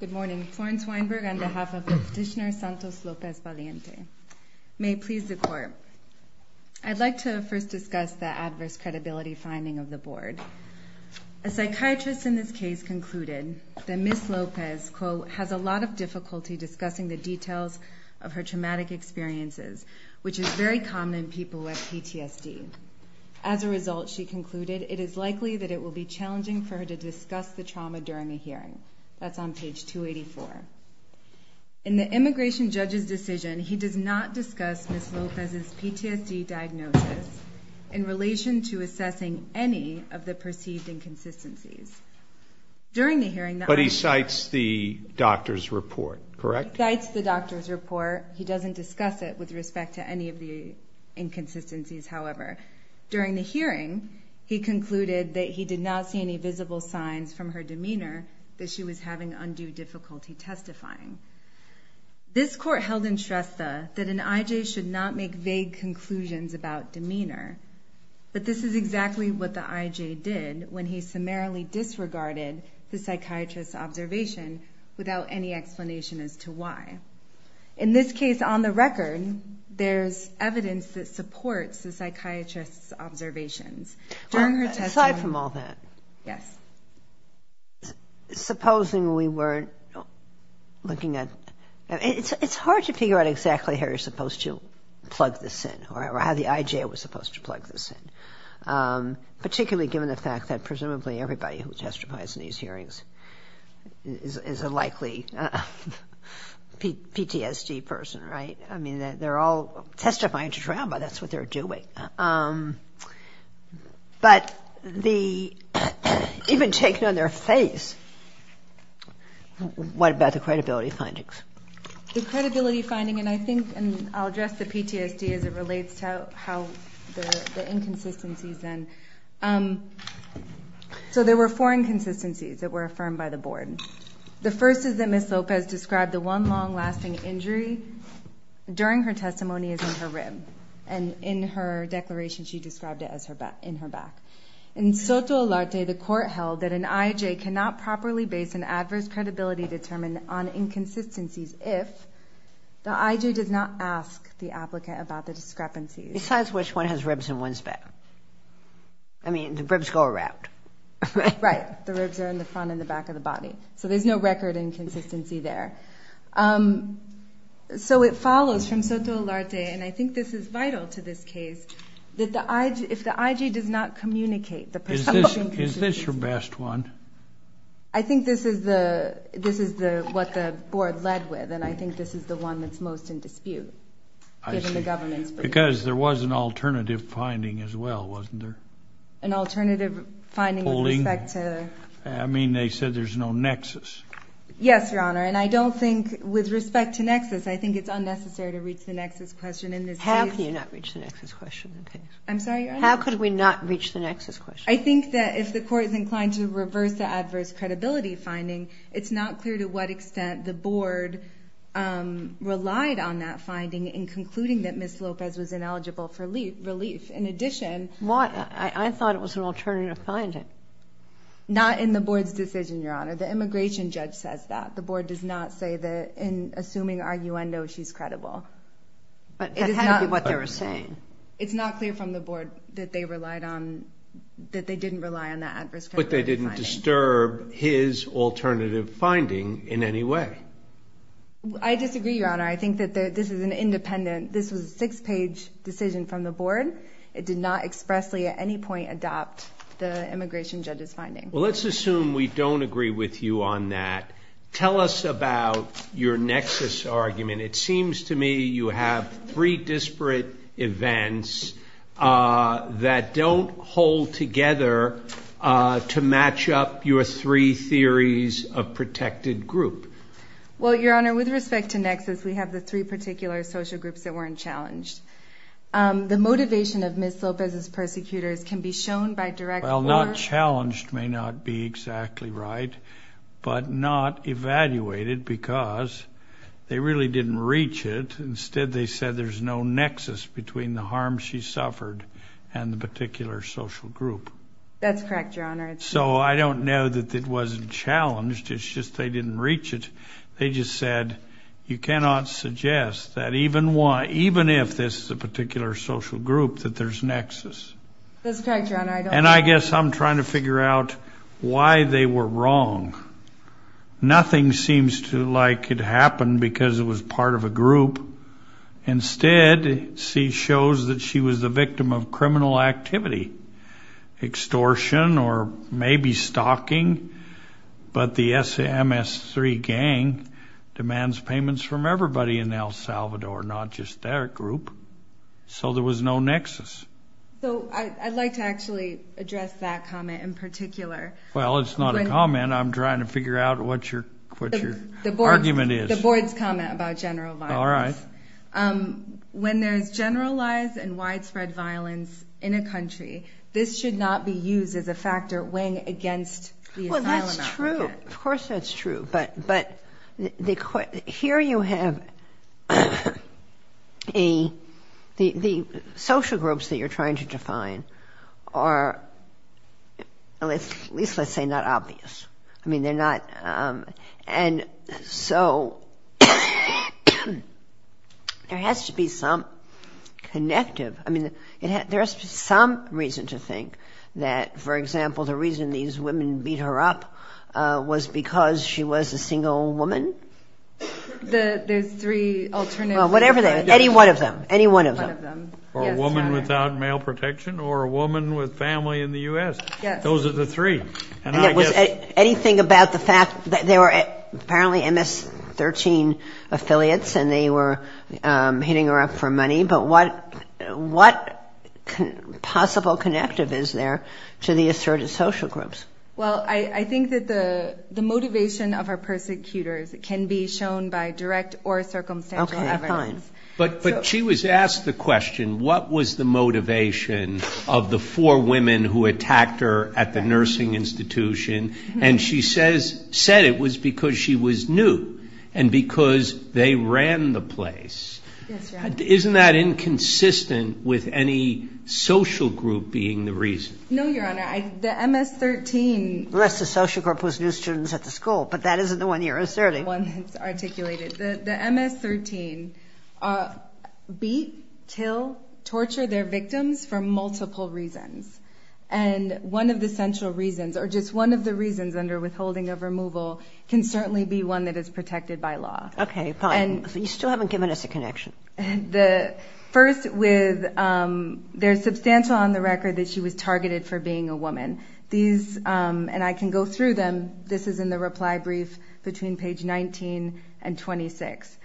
Good morning, Florence Weinberg on behalf of Petitioner Santos Lopez-Valiente. May it please the Court. I'd like to first discuss the adverse credibility finding of the Board. A psychiatrist in this case concluded that Ms. Lopez, quote, has a lot of difficulty discussing the details of her traumatic experiences, which is very common in people who have PTSD. As a result, she concluded, it is likely that it will be challenging for her to discuss the trauma during a hearing. That's on page 284. In the immigration judge's decision, he does not discuss Ms. Lopez's PTSD diagnosis in relation to assessing any of the perceived inconsistencies. During the hearing, the officer… But he cites the doctor's report, correct? He cites the doctor's report. He doesn't discuss it with respect to any of the inconsistencies, however. During the hearing, he concluded that he did not see any visible signs from her demeanor that she was having undue difficulty testifying. This Court held in Shrestha that an IJ should not make vague conclusions about demeanor. But this is exactly what the IJ did when he summarily disregarded the psychiatrist's observation without any explanation as to why. In this case, on the record, there's evidence that supports the psychiatrist's observations. During her testimony… Aside from all that… Yes. Supposing we weren't looking at… It's hard to figure out exactly how you're supposed to plug this in or how the IJ was supposed to plug this in, particularly given the fact that presumably everybody who testifies in these hearings is a likely PTSD person, right? I mean, they're all testifying to trauma. That's what they're doing. But even taken on their face, what about the credibility findings? The credibility finding, and I think I'll address the PTSD as it relates to how the inconsistencies then… So there were four inconsistencies that were affirmed by the Board. The first is that Ms. Lopez described the one long-lasting injury during her testimony as in her rib. And in her declaration, she described it as in her back. In Soto Alarte, the court held that an IJ cannot properly base an adverse credibility determinant on inconsistencies if the IJ does not ask the applicant about the discrepancies. Besides which one has ribs in one's back? I mean, the ribs go around, right? The ribs are in the front and the back of the body. So there's no record inconsistency there. So it follows from Soto Alarte, and I think this is vital to this case, that if the IJ does not communicate the perceived inconsistencies… Is this your best one? I think this is what the Board led with, and I think this is the one that's most in dispute, given the government's… Because there was an alternative finding as well, wasn't there? An alternative finding with respect to… I mean, they said there's no nexus. Yes, Your Honor. And I don't think, with respect to nexus, I think it's unnecessary to reach the nexus question in this case. How can you not reach the nexus question in this case? I'm sorry, Your Honor? How could we not reach the nexus question? I think that if the Court is inclined to reverse the adverse credibility finding, it's not clear to what extent the Board relied on that finding in concluding that Ms. Lopez was ineligible for relief. In addition… I thought it was an alternative finding. Not in the Board's decision, Your Honor. The immigration judge says that. The Board does not say that, in assuming arguendo, she's credible. But that had to be what they were saying. It's not clear from the Board that they relied on… that they didn't rely on that adverse credibility finding. But they didn't disturb his alternative finding in any way. I disagree, Your Honor. I think that this is an independent… It did not expressly, at any point, adopt the immigration judge's finding. Well, let's assume we don't agree with you on that. Tell us about your nexus argument. It seems to me you have three disparate events that don't hold together to match up your three theories of protected group. Well, Your Honor, with respect to nexus, we have the three particular social groups that weren't challenged. The motivation of Ms. Lopez's persecutors can be shown by direct… Well, not challenged may not be exactly right, but not evaluated because they really didn't reach it. Instead, they said there's no nexus between the harm she suffered and the particular social group. That's correct, Your Honor. So I don't know that it wasn't challenged. It's just they didn't reach it. They just said, you cannot suggest that even if this is a particular social group, that there's nexus. That's correct, Your Honor. And I guess I'm trying to figure out why they were wrong. Nothing seems like it happened because it was part of a group. Instead, she shows that she was the victim of criminal activity, extortion, or maybe stalking, but the SMS3 gang demands payments from everybody in El Salvador, not just their group. So there was no nexus. So I'd like to actually address that comment in particular. Well, it's not a comment. I'm trying to figure out what your argument is. The Board's comment about general violence. All right. When there's generalized and widespread violence in a country, this should not be used as a factor weighing against the asylum applicant. Well, that's true. Of course that's true. But here you have the social groups that you're trying to define are at least, let's say, not obvious. I mean, they're not. And so there has to be some connective. I mean, there's some reason to think that, for example, the reason these women beat her up was because she was a single woman. There's three alternatives. Well, whatever. Any one of them. Any one of them. Or a woman without male protection or a woman with family in the U.S. Those are the three. And it was anything about the fact that they were apparently MS-13 affiliates and they were hitting her up for money. But what possible connective is there to the asserted social groups? Well, I think that the motivation of her persecutors can be shown by direct or circumstantial evidence. Okay, fine. But she was asked the question, what was the motivation of the four women who attacked her at the nursing institution? And she said it was because she was new and because they ran the place. Yes, Your Honor. Isn't that inconsistent with any social group being the reason? No, Your Honor. The MS-13. Unless the social group was new students at the school, but that isn't the one you're asserting. The one that's articulated. The MS-13 beat, kill, torture their victims for multiple reasons. And one of the central reasons, or just one of the reasons under withholding of removal, can certainly be one that is protected by law. Okay, fine. You still haven't given us a connection. First, there's substantial on the record that she was targeted for being a woman. And I can go through them. This is in the reply brief between page 19 and 26.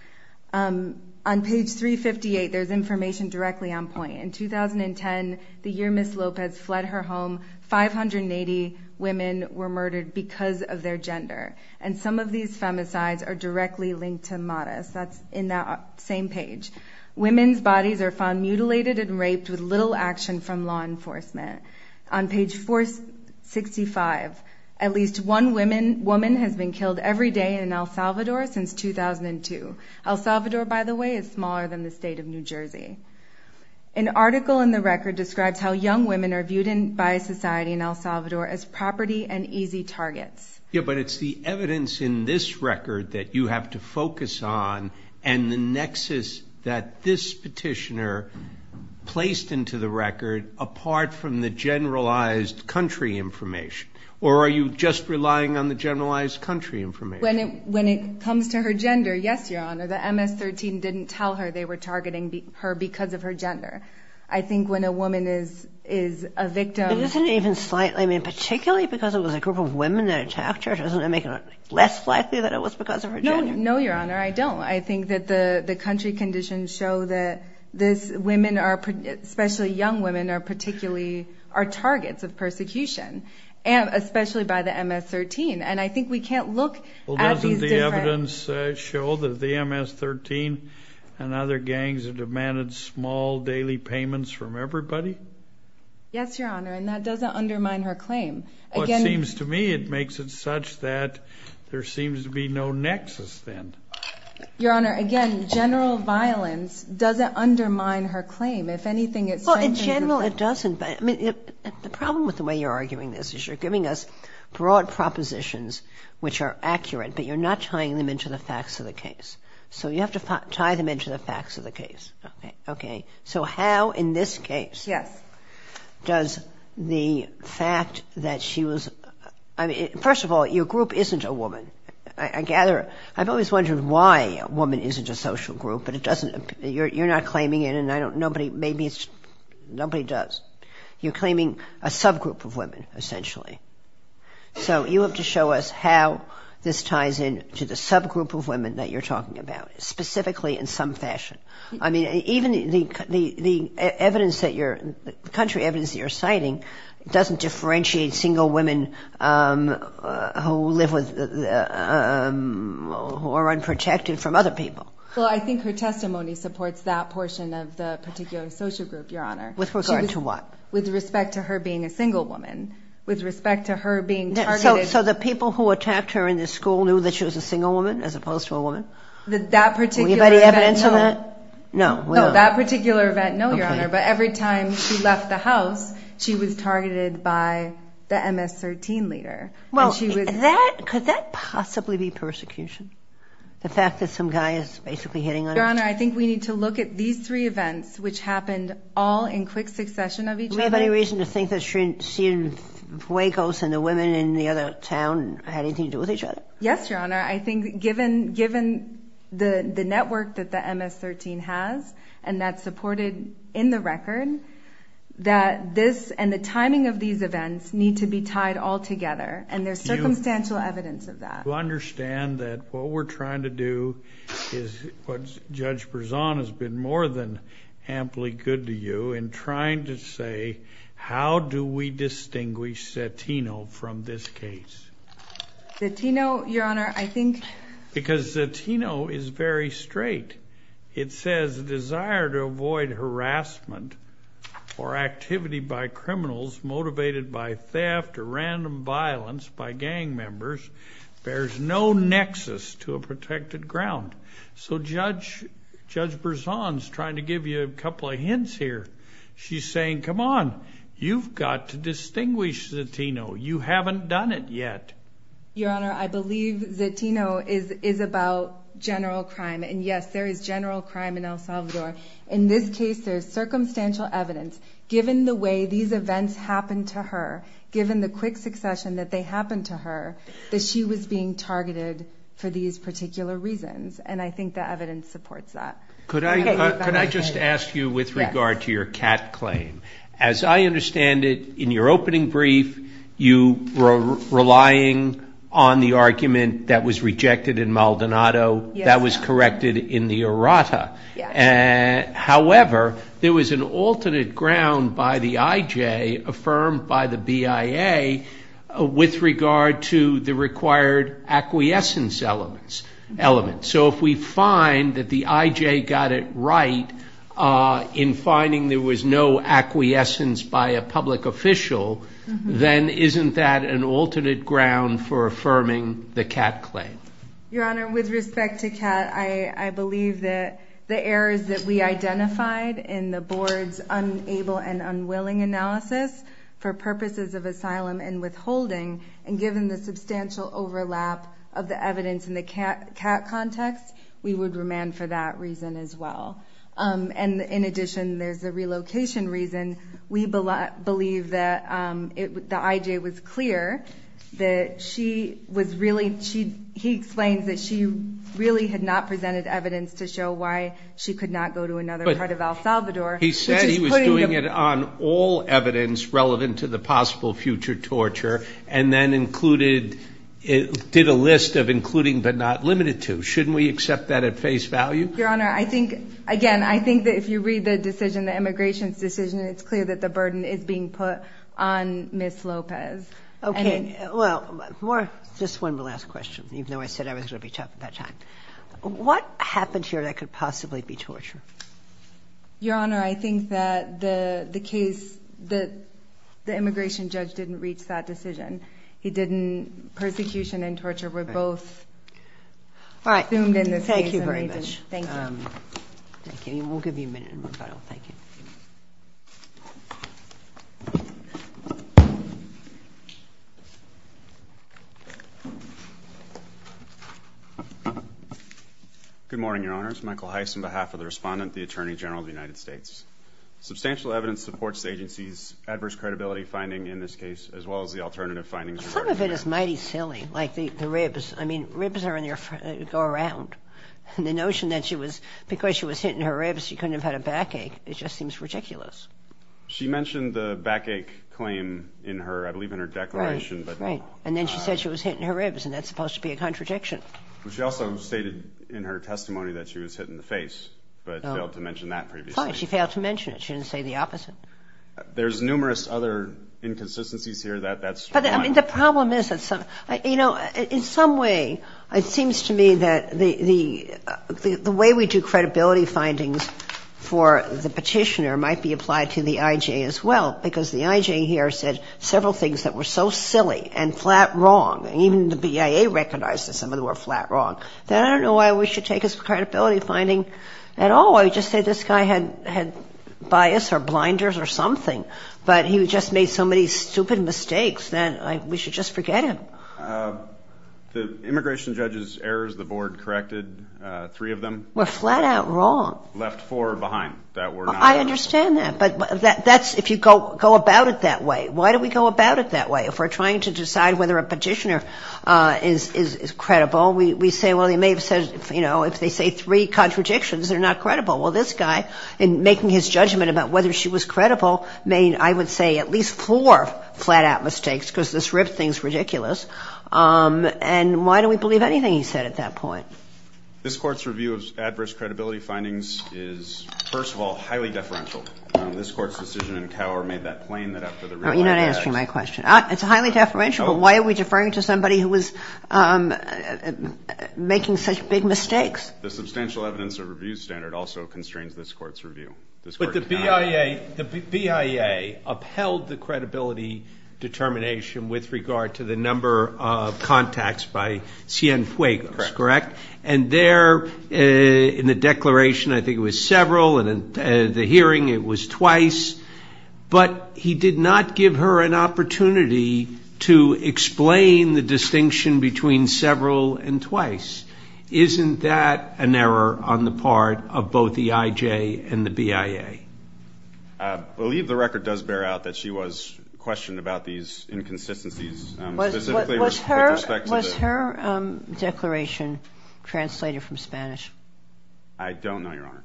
On page 358, there's information directly on point. In 2010, the year Ms. Lopez fled her home, 580 women were murdered because of their gender. And some of these femicides are directly linked to MARAS. That's in that same page. Women's bodies are found mutilated and raped with little action from law enforcement. On page 465, at least one woman has been killed every day in El Salvador since 2002. El Salvador, by the way, is smaller than the state of New Jersey. An article in the record describes how young women are viewed by society in El Salvador as property and easy targets. Yeah, but it's the evidence in this record that you have to focus on and the nexus that this petitioner placed into the record apart from the generalized country information. Or are you just relying on the generalized country information? When it comes to her gender, yes, Your Honor, the MS-13 didn't tell her they were targeting her because of her gender. I think when a woman is a victim. Particularly because it was a group of women that attacked her, doesn't that make it less likely that it was because of her gender? No, Your Honor, I don't. I think that the country conditions show that women, especially young women, particularly are targets of persecution, especially by the MS-13. And I think we can't look at these different... Well, doesn't the evidence show that the MS-13 and other gangs have demanded small daily payments from everybody? Yes, Your Honor, and that doesn't undermine her claim. Well, it seems to me it makes it such that there seems to be no nexus then. Your Honor, again, general violence doesn't undermine her claim. If anything, it strengthens... Well, in general it doesn't, but the problem with the way you're arguing this is you're giving us broad propositions which are accurate, but you're not tying them into the facts of the case. So you have to tie them into the facts of the case. Okay, so how in this case... Yes. ...does the fact that she was... First of all, your group isn't a woman. I gather... I've always wondered why a woman isn't a social group, but it doesn't... You're not claiming it, and I don't... Nobody... Maybe it's... Nobody does. You're claiming a subgroup of women, essentially. So you have to show us how this ties in to the subgroup of women that you're talking about, specifically in some fashion. I mean, even the evidence that you're... the country evidence that you're citing doesn't differentiate single women who live with... who are unprotected from other people. Well, I think her testimony supports that portion of the particular social group, Your Honor. With regard to what? With respect to her being a single woman, with respect to her being targeted... So the people who attacked her in this school knew that she was a single woman as opposed to a woman? That particular... Do we have any evidence of that? No. No, that particular event, no, Your Honor. But every time she left the house, she was targeted by the MS-13 leader. And she was... Well, that... Could that possibly be persecution? The fact that some guy is basically hitting on her? Your Honor, I think we need to look at these three events, which happened all in quick succession of each other. Do we have any reason to think that she and Huecos and the women in the other town had anything to do with each other? Yes, Your Honor. I think given the network that the MS-13 has, and that's supported in the record, that this and the timing of these events need to be tied all together, and there's circumstantial evidence of that. Do you understand that what we're trying to do is... Judge Berzon has been more than amply good to you in trying to say how do we distinguish Cetino from this case? Cetino, Your Honor, I think... Because Cetino is very straight. It says, desire to avoid harassment or activity by criminals motivated by theft or random violence by gang members. There's no nexus to a protected ground. So Judge Berzon is trying to give you a couple of hints here. She's saying, come on, you've got to distinguish Cetino. You haven't done it yet. Your Honor, I believe Cetino is about general crime, and yes, there is general crime in El Salvador. In this case, there's circumstantial evidence. Given the way these events happened to her, given the quick succession that they happened to her, that she was being targeted for these particular reasons, and I think the evidence supports that. Could I just ask you with regard to your cat claim? As I understand it, in your opening brief, you were relying on the argument that was rejected in Maldonado. That was corrected in the errata. However, there was an alternate ground by the IJ, affirmed by the BIA, with regard to the required acquiescence elements. So if we find that the IJ got it right in finding there was no acquiescence by a public official, then isn't that an alternate ground for affirming the cat claim? Your Honor, with respect to cat, I believe that the errors that we identified in the board's unable and unwilling analysis for purposes of asylum and withholding, and given the substantial overlap of the evidence in the cat context, we would remand for that reason as well. And in addition, there's a relocation reason. We believe that the IJ was clear that she was really, he explains that she really had not presented evidence to show why she could not go to another part of El Salvador. He said he was doing it on all evidence relevant to the possible future torture, and then included, did a list of including but not limited to. Shouldn't we accept that at face value? Your Honor, I think, again, I think that if you read the decision, the immigration's decision, it's clear that the burden is being put on Ms. Lopez. Okay, well, just one last question, even though I said I was going to be tough at that time. What happened here that could possibly be torture? Your Honor, I think that the case, the immigration judge didn't reach that decision. He didn't, persecution and torture were both. All right. Thank you very much. Thank you. Thank you. We'll give you a minute in rebuttal. Thank you. Good morning, Your Honors. Michael Heiss on behalf of the respondent, the Attorney General of the United States. Substantial evidence supports the agency's adverse credibility finding in this case as well as the alternative findings. Some of it is mighty silly, like the ribs. I mean, ribs go around. And the notion that because she was hitting her ribs, she couldn't have had a backache, it just seems ridiculous. She mentioned the backache claim in her, I believe, in her declaration. Right, right. And then she said she was hitting her ribs, and that's supposed to be a contradiction. She also stated in her testimony that she was hit in the face but failed to mention that previously. Fine. She failed to mention it. She didn't say the opposite. There's numerous other inconsistencies here. That's fine. But, I mean, the problem is that some, you know, in some way it seems to me that the way we do credibility findings for the petitioner might be applied to the I.J. as well because the I.J. here said several things that were so silly and flat wrong, and even the BIA recognized that some of them were flat wrong, that I don't know why we should take his credibility finding at all. I would just say this guy had bias or blinders or something, but he just made so many stupid mistakes that we should just forget him. The immigration judge's errors, the board corrected three of them. Were flat out wrong. Left four behind that were not. I understand that, but that's if you go about it that way. Why do we go about it that way? If we're trying to decide whether a petitioner is credible, we say, well, they may have said, you know, if they say three contradictions, they're not credible. Well, this guy, in making his judgment about whether she was credible, made, I would say, at least four flat out mistakes because this ripped things ridiculous. And why do we believe anything he said at that point? This Court's review of adverse credibility findings is, first of all, highly deferential. This Court's decision in Cower made that plain that after the review of the facts. You're not answering my question. It's highly deferential. Why are we deferring to somebody who was making such big mistakes? The substantial evidence of review standard also constrains this Court's review. But the BIA upheld the credibility determination with regard to the number of contacts by Cienfuegos, correct? And there in the declaration I think it was several, and in the hearing it was twice. But he did not give her an opportunity to explain the distinction between several and twice. Isn't that an error on the part of both the IJ and the BIA? I believe the record does bear out that she was questioned about these inconsistencies. Was her declaration translated from Spanish? I don't know, Your Honor.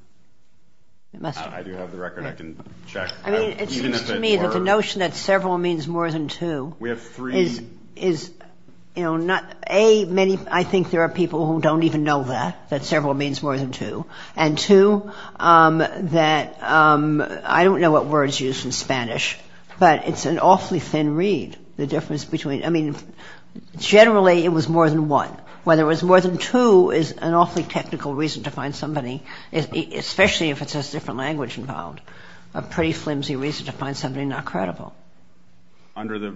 It must have been. I do have the record. I can check. I mean, it seems to me that the notion that several means more than two is, you know, A, I think there are people who don't even know that, that several means more than two. And two, that I don't know what word is used in Spanish, but it's an awfully thin read, the difference between. I mean, generally it was more than one. Whether it was more than two is an awfully technical reason to find somebody, especially if it says different language involved, a pretty flimsy reason to find somebody not credible. Under the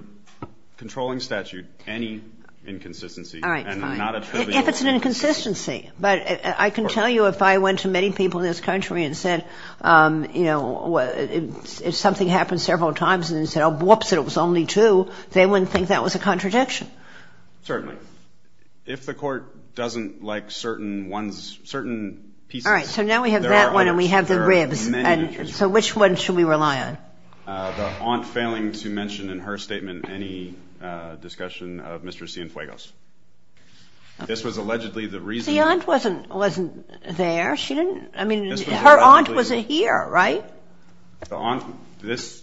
controlling statute, any inconsistency. All right. If it's an inconsistency. But I can tell you if I went to many people in this country and said, you know, if something happened several times and they said, whoops, it was only two, they wouldn't think that was a contradiction. Certainly. If the court doesn't like certain ones, certain pieces. All right. So now we have that one and we have the ribs. So which one should we rely on? The aunt failing to mention in her statement any discussion of Mr. Cienfuegos. This was allegedly the reason. The aunt wasn't there. I mean, her aunt wasn't here, right? This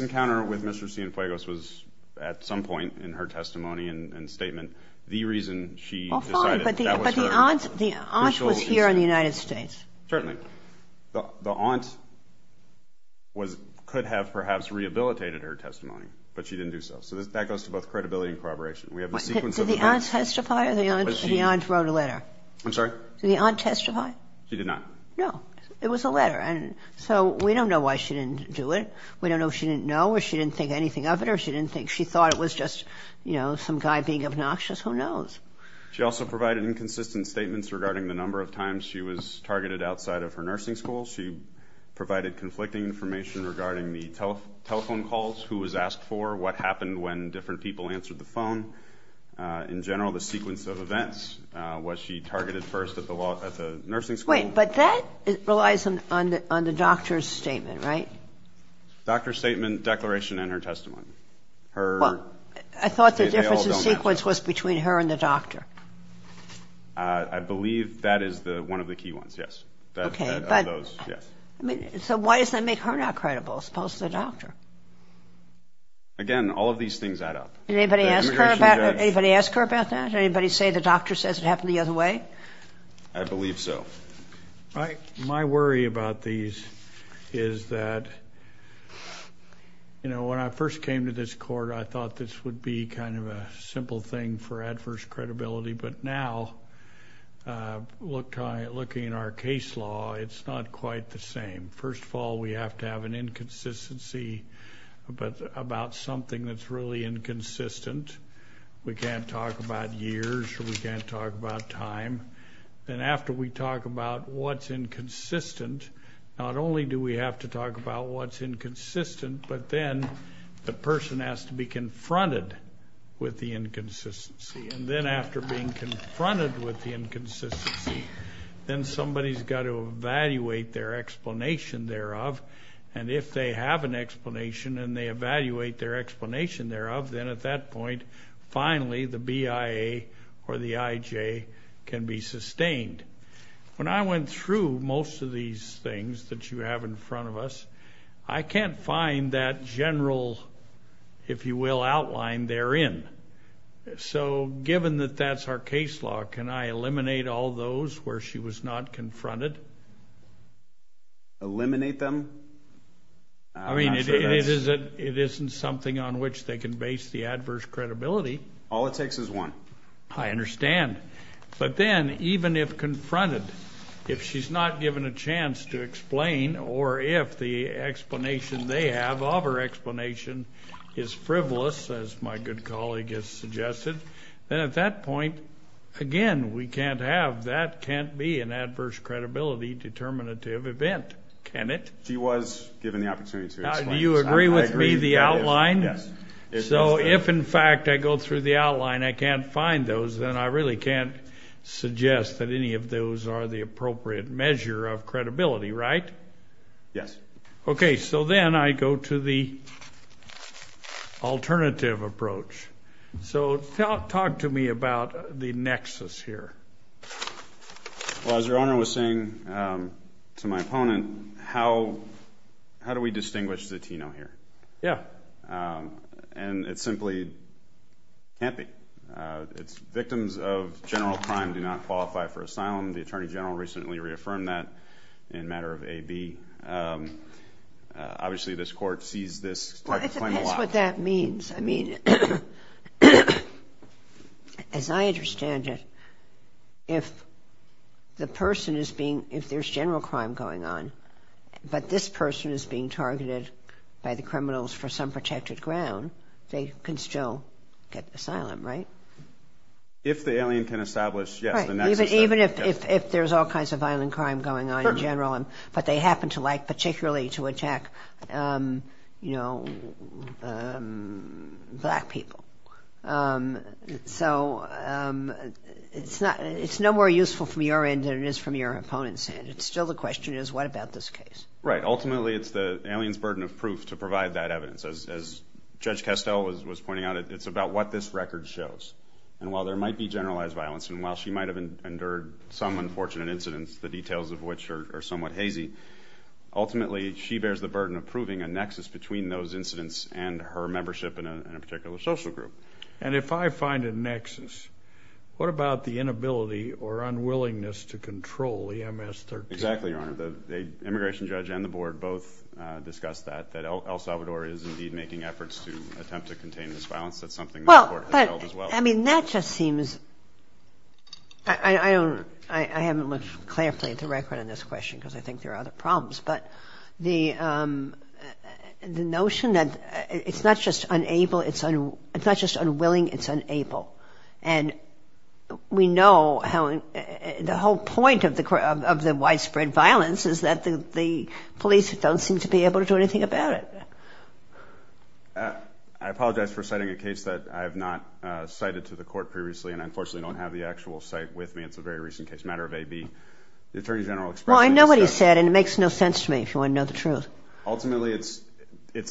encounter with Mr. Cienfuegos was at some point in her testimony and statement the reason she decided that was her. But the aunt was here in the United States. Certainly. The aunt could have perhaps rehabilitated her testimony, but she didn't do so. So that goes to both credibility and corroboration. Did the aunt testify or the aunt wrote a letter? I'm sorry? Did the aunt testify? She did not. No. It was a letter. So we don't know why she didn't do it. We don't know if she didn't know or she didn't think anything of it or if she thought it was just some guy being obnoxious. Who knows? She also provided inconsistent statements regarding the number of times she was targeted outside of her nursing school. She provided conflicting information regarding the telephone calls, who was asked for, what happened when different people answered the phone. In general, the sequence of events. Was she targeted first at the nursing school? Wait, but that relies on the doctor's statement, right? Doctor's statement, declaration, and her testimony. I thought the difference in sequence was between her and the doctor. I believe that is one of the key ones, yes. So why does that make her not credible as opposed to the doctor? Again, all of these things add up. Did anybody ask her about that? Did anybody say the doctor says it happened the other way? I believe so. My worry about these is that, you know, when I first came to this court, I thought this would be kind of a simple thing for adverse credibility, but now looking at our case law, it's not quite the same. First of all, we have to have an inconsistency about something that's really inconsistent. We can't talk about years or we can't talk about time. And after we talk about what's inconsistent, not only do we have to talk about what's inconsistent, but then the person has to be confronted with the inconsistency. And then after being confronted with the inconsistency, then somebody's got to evaluate their explanation thereof. And if they have an explanation and they evaluate their explanation thereof, then at that point finally the BIA or the IJ can be sustained. When I went through most of these things that you have in front of us, I can't find that general, if you will, outline therein. So given that that's our case law, can I eliminate all those where she was not confronted? Eliminate them? I mean, it isn't something on which they can base the adverse credibility. All it takes is one. I understand. But then even if confronted, if she's not given a chance to explain or if the explanation they have of her explanation is frivolous, as my good colleague has suggested, then at that point, again, we can't have, that can't be an adverse credibility determinative event, can it? She was given the opportunity to explain. Do you agree with me, the outline? So if, in fact, I go through the outline, I can't find those, then I really can't suggest that any of those are the appropriate measure of credibility, right? Yes. Okay. So then I go to the alternative approach. So talk to me about the nexus here. Well, as your Honor was saying to my opponent, how do we distinguish the Tino here? Yeah. And it simply can't be. Victims of general crime do not qualify for asylum. The Attorney General recently reaffirmed that in a matter of AB. Obviously, this Court sees this claim a lot. Well, it depends what that means. I mean, as I understand it, if the person is being, if there's general crime going on, but this person is being targeted by the criminals for some protected ground, they can still get asylum, right? If the alien can establish, yes, the nexus. Right. Even if there's all kinds of violent crime going on in general, but they happen to like particularly to attack, you know, black people. So it's no more useful from your end than it is from your opponent's end. It's still the question is, what about this case? Right. Ultimately, it's the alien's burden of proof to provide that evidence. As Judge Castell was pointing out, it's about what this record shows. And while there might be generalized violence, and while she might have endured some unfortunate incidents, the details of which are somewhat hazy, ultimately she bears the burden of proving a nexus between those incidents and her membership in a particular social group. And if I find a nexus, what about the inability or unwillingness to control the MS-13? Exactly, Your Honor. The immigration judge and the board both discussed that, that El Salvador is indeed making efforts to attempt to contain this violence. That's something that the Court has held as well. I mean, that just seems – I haven't looked carefully at the record on this question because I think there are other problems, but the notion that it's not just unwilling, it's unable. And we know how – the whole point of the widespread violence is that the police don't seem to be able to do anything about it. I apologize for citing a case that I have not cited to the Court previously, and I unfortunately don't have the actual cite with me. It's a very recent case, a matter of A.B. The Attorney General expressed – Well, I know what he said, and it makes no sense to me, if you want to know the truth. Ultimately, it's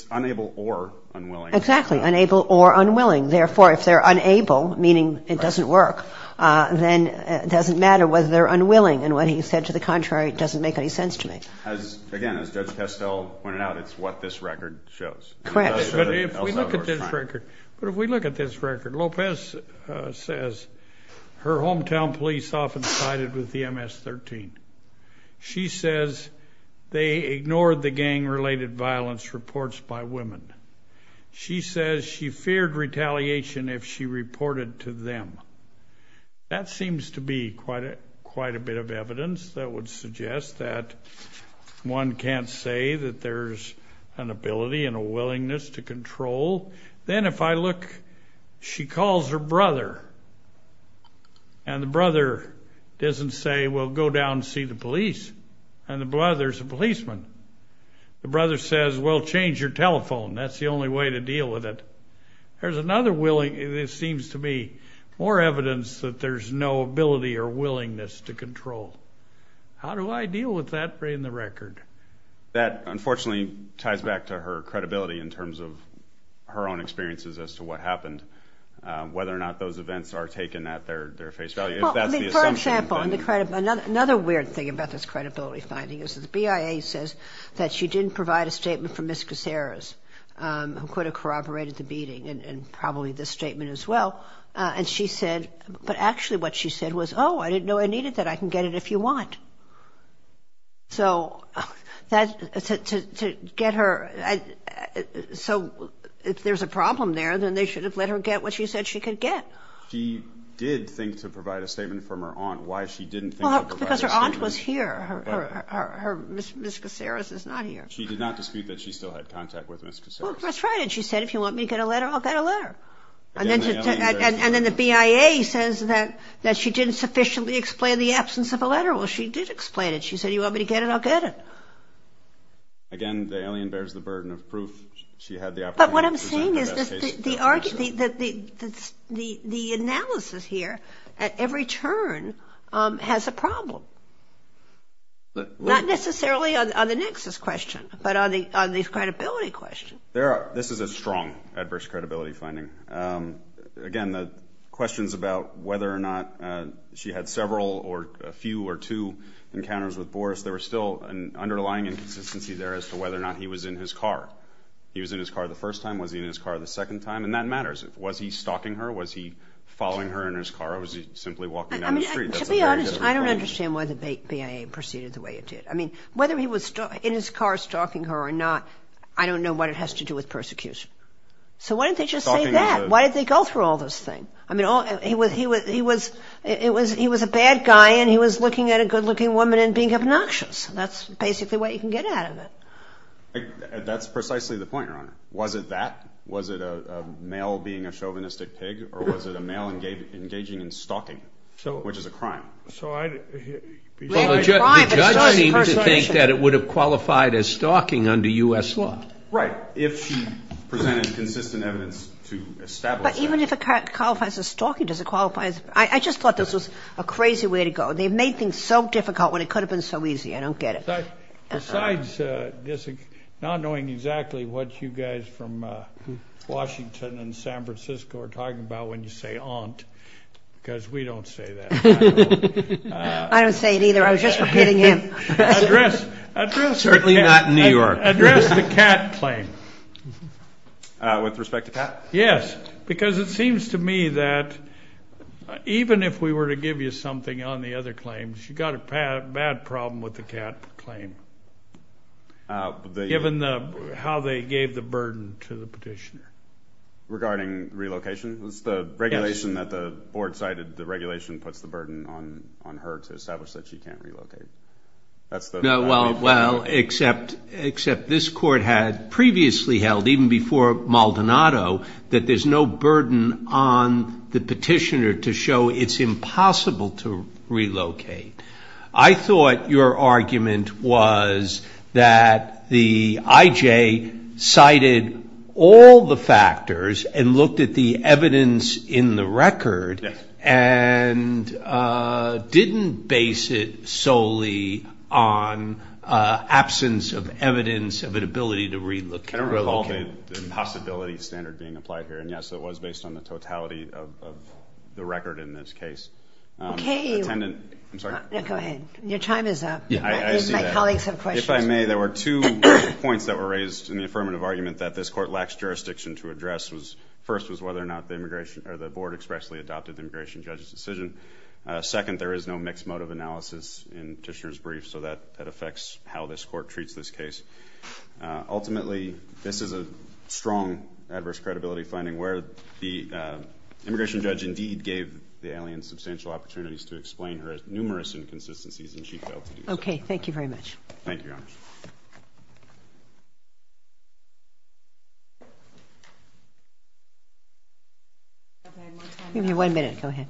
unable or unwilling. Exactly, unable or unwilling. Therefore, if they're unable, meaning it doesn't work, then it doesn't matter whether they're unwilling. And what he said to the contrary doesn't make any sense to me. Again, as Judge Kestel pointed out, it's what this record shows. Correct. But if we look at this record, Lopez says her hometown police often cited with the MS-13. She says they ignored the gang-related violence reports by women. She says she feared retaliation if she reported to them. That seems to be quite a bit of evidence that would suggest that one can't say that there's an ability and a willingness to control. Then if I look, she calls her brother, and the brother doesn't say, well, go down and see the police, and there's a policeman. The brother says, well, change your telephone. That's the only way to deal with it. There's another willingness, it seems to me, more evidence that there's no ability or willingness to control. How do I deal with that in the record? That, unfortunately, ties back to her credibility in terms of her own experiences as to what happened, whether or not those events are taken at their face value. If that's the assumption. For example, another weird thing about this credibility finding is the BIA says that she didn't provide a statement from Ms. Caceres, who could have corroborated the beating, and probably this statement as well. And she said, but actually what she said was, oh, I didn't know I needed that. I can get it if you want. So to get her, so if there's a problem there, then they should have let her get what she said she could get. She did think to provide a statement from her aunt. Why she didn't think to provide a statement. Because her aunt was here. Ms. Caceres is not here. She did not dispute that she still had contact with Ms. Caceres. Well, that's right. And she said, if you want me to get a letter, I'll get a letter. And then the BIA says that she didn't sufficiently explain the absence of a letter. Well, she did explain it. She said, you want me to get it, I'll get it. Again, the alien bears the burden of proof. She had the opportunity to present the best case. But what I'm saying is the analysis here at every turn has a problem. Not necessarily on the nexus question, but on the credibility question. This is a strong adverse credibility finding. Again, the questions about whether or not she had several or a few or two encounters with Boris, there was still an underlying inconsistency there as to whether or not he was in his car. He was in his car the first time. Was he in his car the second time? And that matters. Was he stalking her? Was he following her in his car? Or was he simply walking down the street? To be honest, I don't understand why the BIA proceeded the way it did. I mean, whether he was in his car stalking her or not, I don't know what it has to do with persecution. So why didn't they just say that? Why did they go through all this thing? I mean, he was a bad guy and he was looking at a good-looking woman and being obnoxious. That's basically what you can get out of it. That's precisely the point, Your Honor. Was it that? Was it a male being a chauvinistic pig? Or was it a male engaging in stalking, which is a crime? The judge seemed to think that it would have qualified as stalking under U.S. law. Right. If she presented consistent evidence to establish that. But even if it qualifies as stalking, does it qualify as ‑‑ I just thought this was a crazy way to go. They made things so difficult when it could have been so easy. I don't get it. Besides not knowing exactly what you guys from Washington and San Francisco are talking about when you say aunt, because we don't say that. I don't say it either. I was just repeating him. Certainly not in New York. Address the cat claim. With respect to Pat? Yes. Because it seems to me that even if we were to give you something on the other claims, you've got a bad problem with the cat claim, given how they gave the burden to the petitioner. Regarding relocation? Yes. The regulation that the board cited, the regulation puts the burden on her to establish that she can't relocate. Well, except this court had previously held, even before Maldonado, that there's no burden on the petitioner to show it's impossible to relocate. I thought your argument was that the IJ cited all the factors and looked at the evidence in the record and didn't base it solely on absence of evidence of an ability to relocate. I don't recall the possibility standard being applied here. And, yes, it was based on the totality of the record in this case. Okay. Attendant. I'm sorry. Go ahead. Your time is up. My colleagues have questions. If I may, there were two points that were raised in the affirmative argument that this court lacks jurisdiction to address. First was whether or not the board expressly adopted the immigration judge's decision. Second, there is no mixed motive analysis in petitioner's brief, so that affects how this court treats this case. Ultimately, this is a strong adverse credibility finding where the immigration judge, indeed, gave the alien substantial opportunities to explain her numerous inconsistencies, and she failed to do so. Okay. Thank you very much. Thank you, Your Honor. We have one minute. Go ahead.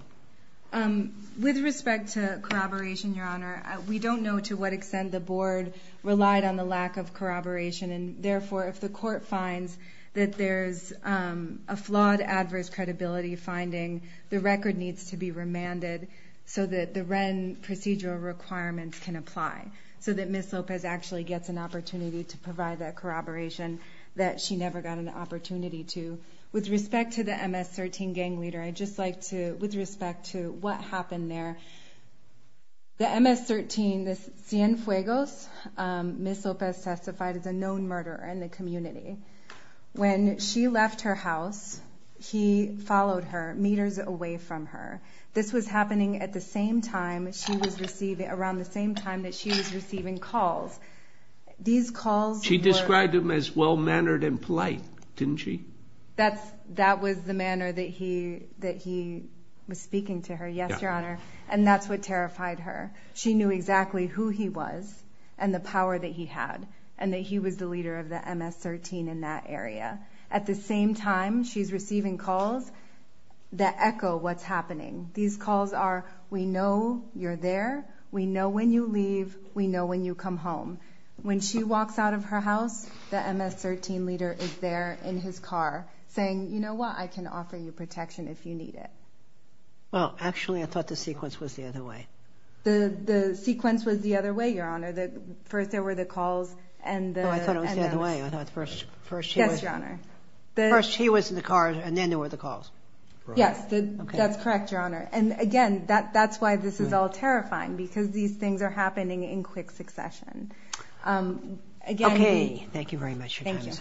With respect to corroboration, Your Honor, we don't know to what extent the board relied on the lack of corroboration, and, therefore, if the court finds that there's a flawed adverse credibility finding, the record needs to be remanded so that the Wren procedural requirements can apply, so that Ms. Lopez actually gets an opportunity to provide that corroboration that she never got an opportunity to. With respect to the MS-13 gang leader, I'd just like to, with respect to what happened there, the MS-13, the Cienfuegos, Ms. Lopez testified as a known murderer in the community. When she left her house, he followed her meters away from her. This was happening at the same time she was receiving, around the same time that she was receiving calls. These calls were- She described him as well-mannered and polite, didn't she? That was the manner that he was speaking to her. Yes, Your Honor, and that's what terrified her. She knew exactly who he was and the power that he had, and that he was the leader of the MS-13 in that area. At the same time, she's receiving calls that echo what's happening. These calls are, we know you're there, we know when you leave, we know when you come home. When she walks out of her house, the MS-13 leader is there in his car saying, you know what, I can offer you protection if you need it. Well, actually I thought the sequence was the other way. The sequence was the other way, Your Honor. First there were the calls and the- No, I thought it was the other way. I thought first he was- Yes, Your Honor. First he was in the car, and then there were the calls. Yes, that's correct, Your Honor. And again, that's why this is all terrifying, because these things are happening in quick succession. Again- Okay, thank you very much. Thank you.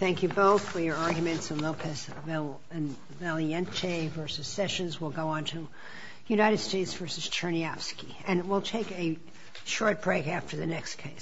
Thank you both for your arguments in Lopez and Valiente v. Sessions. We'll go on to United States v. Chernyavsky. And we'll take a short break after the next case.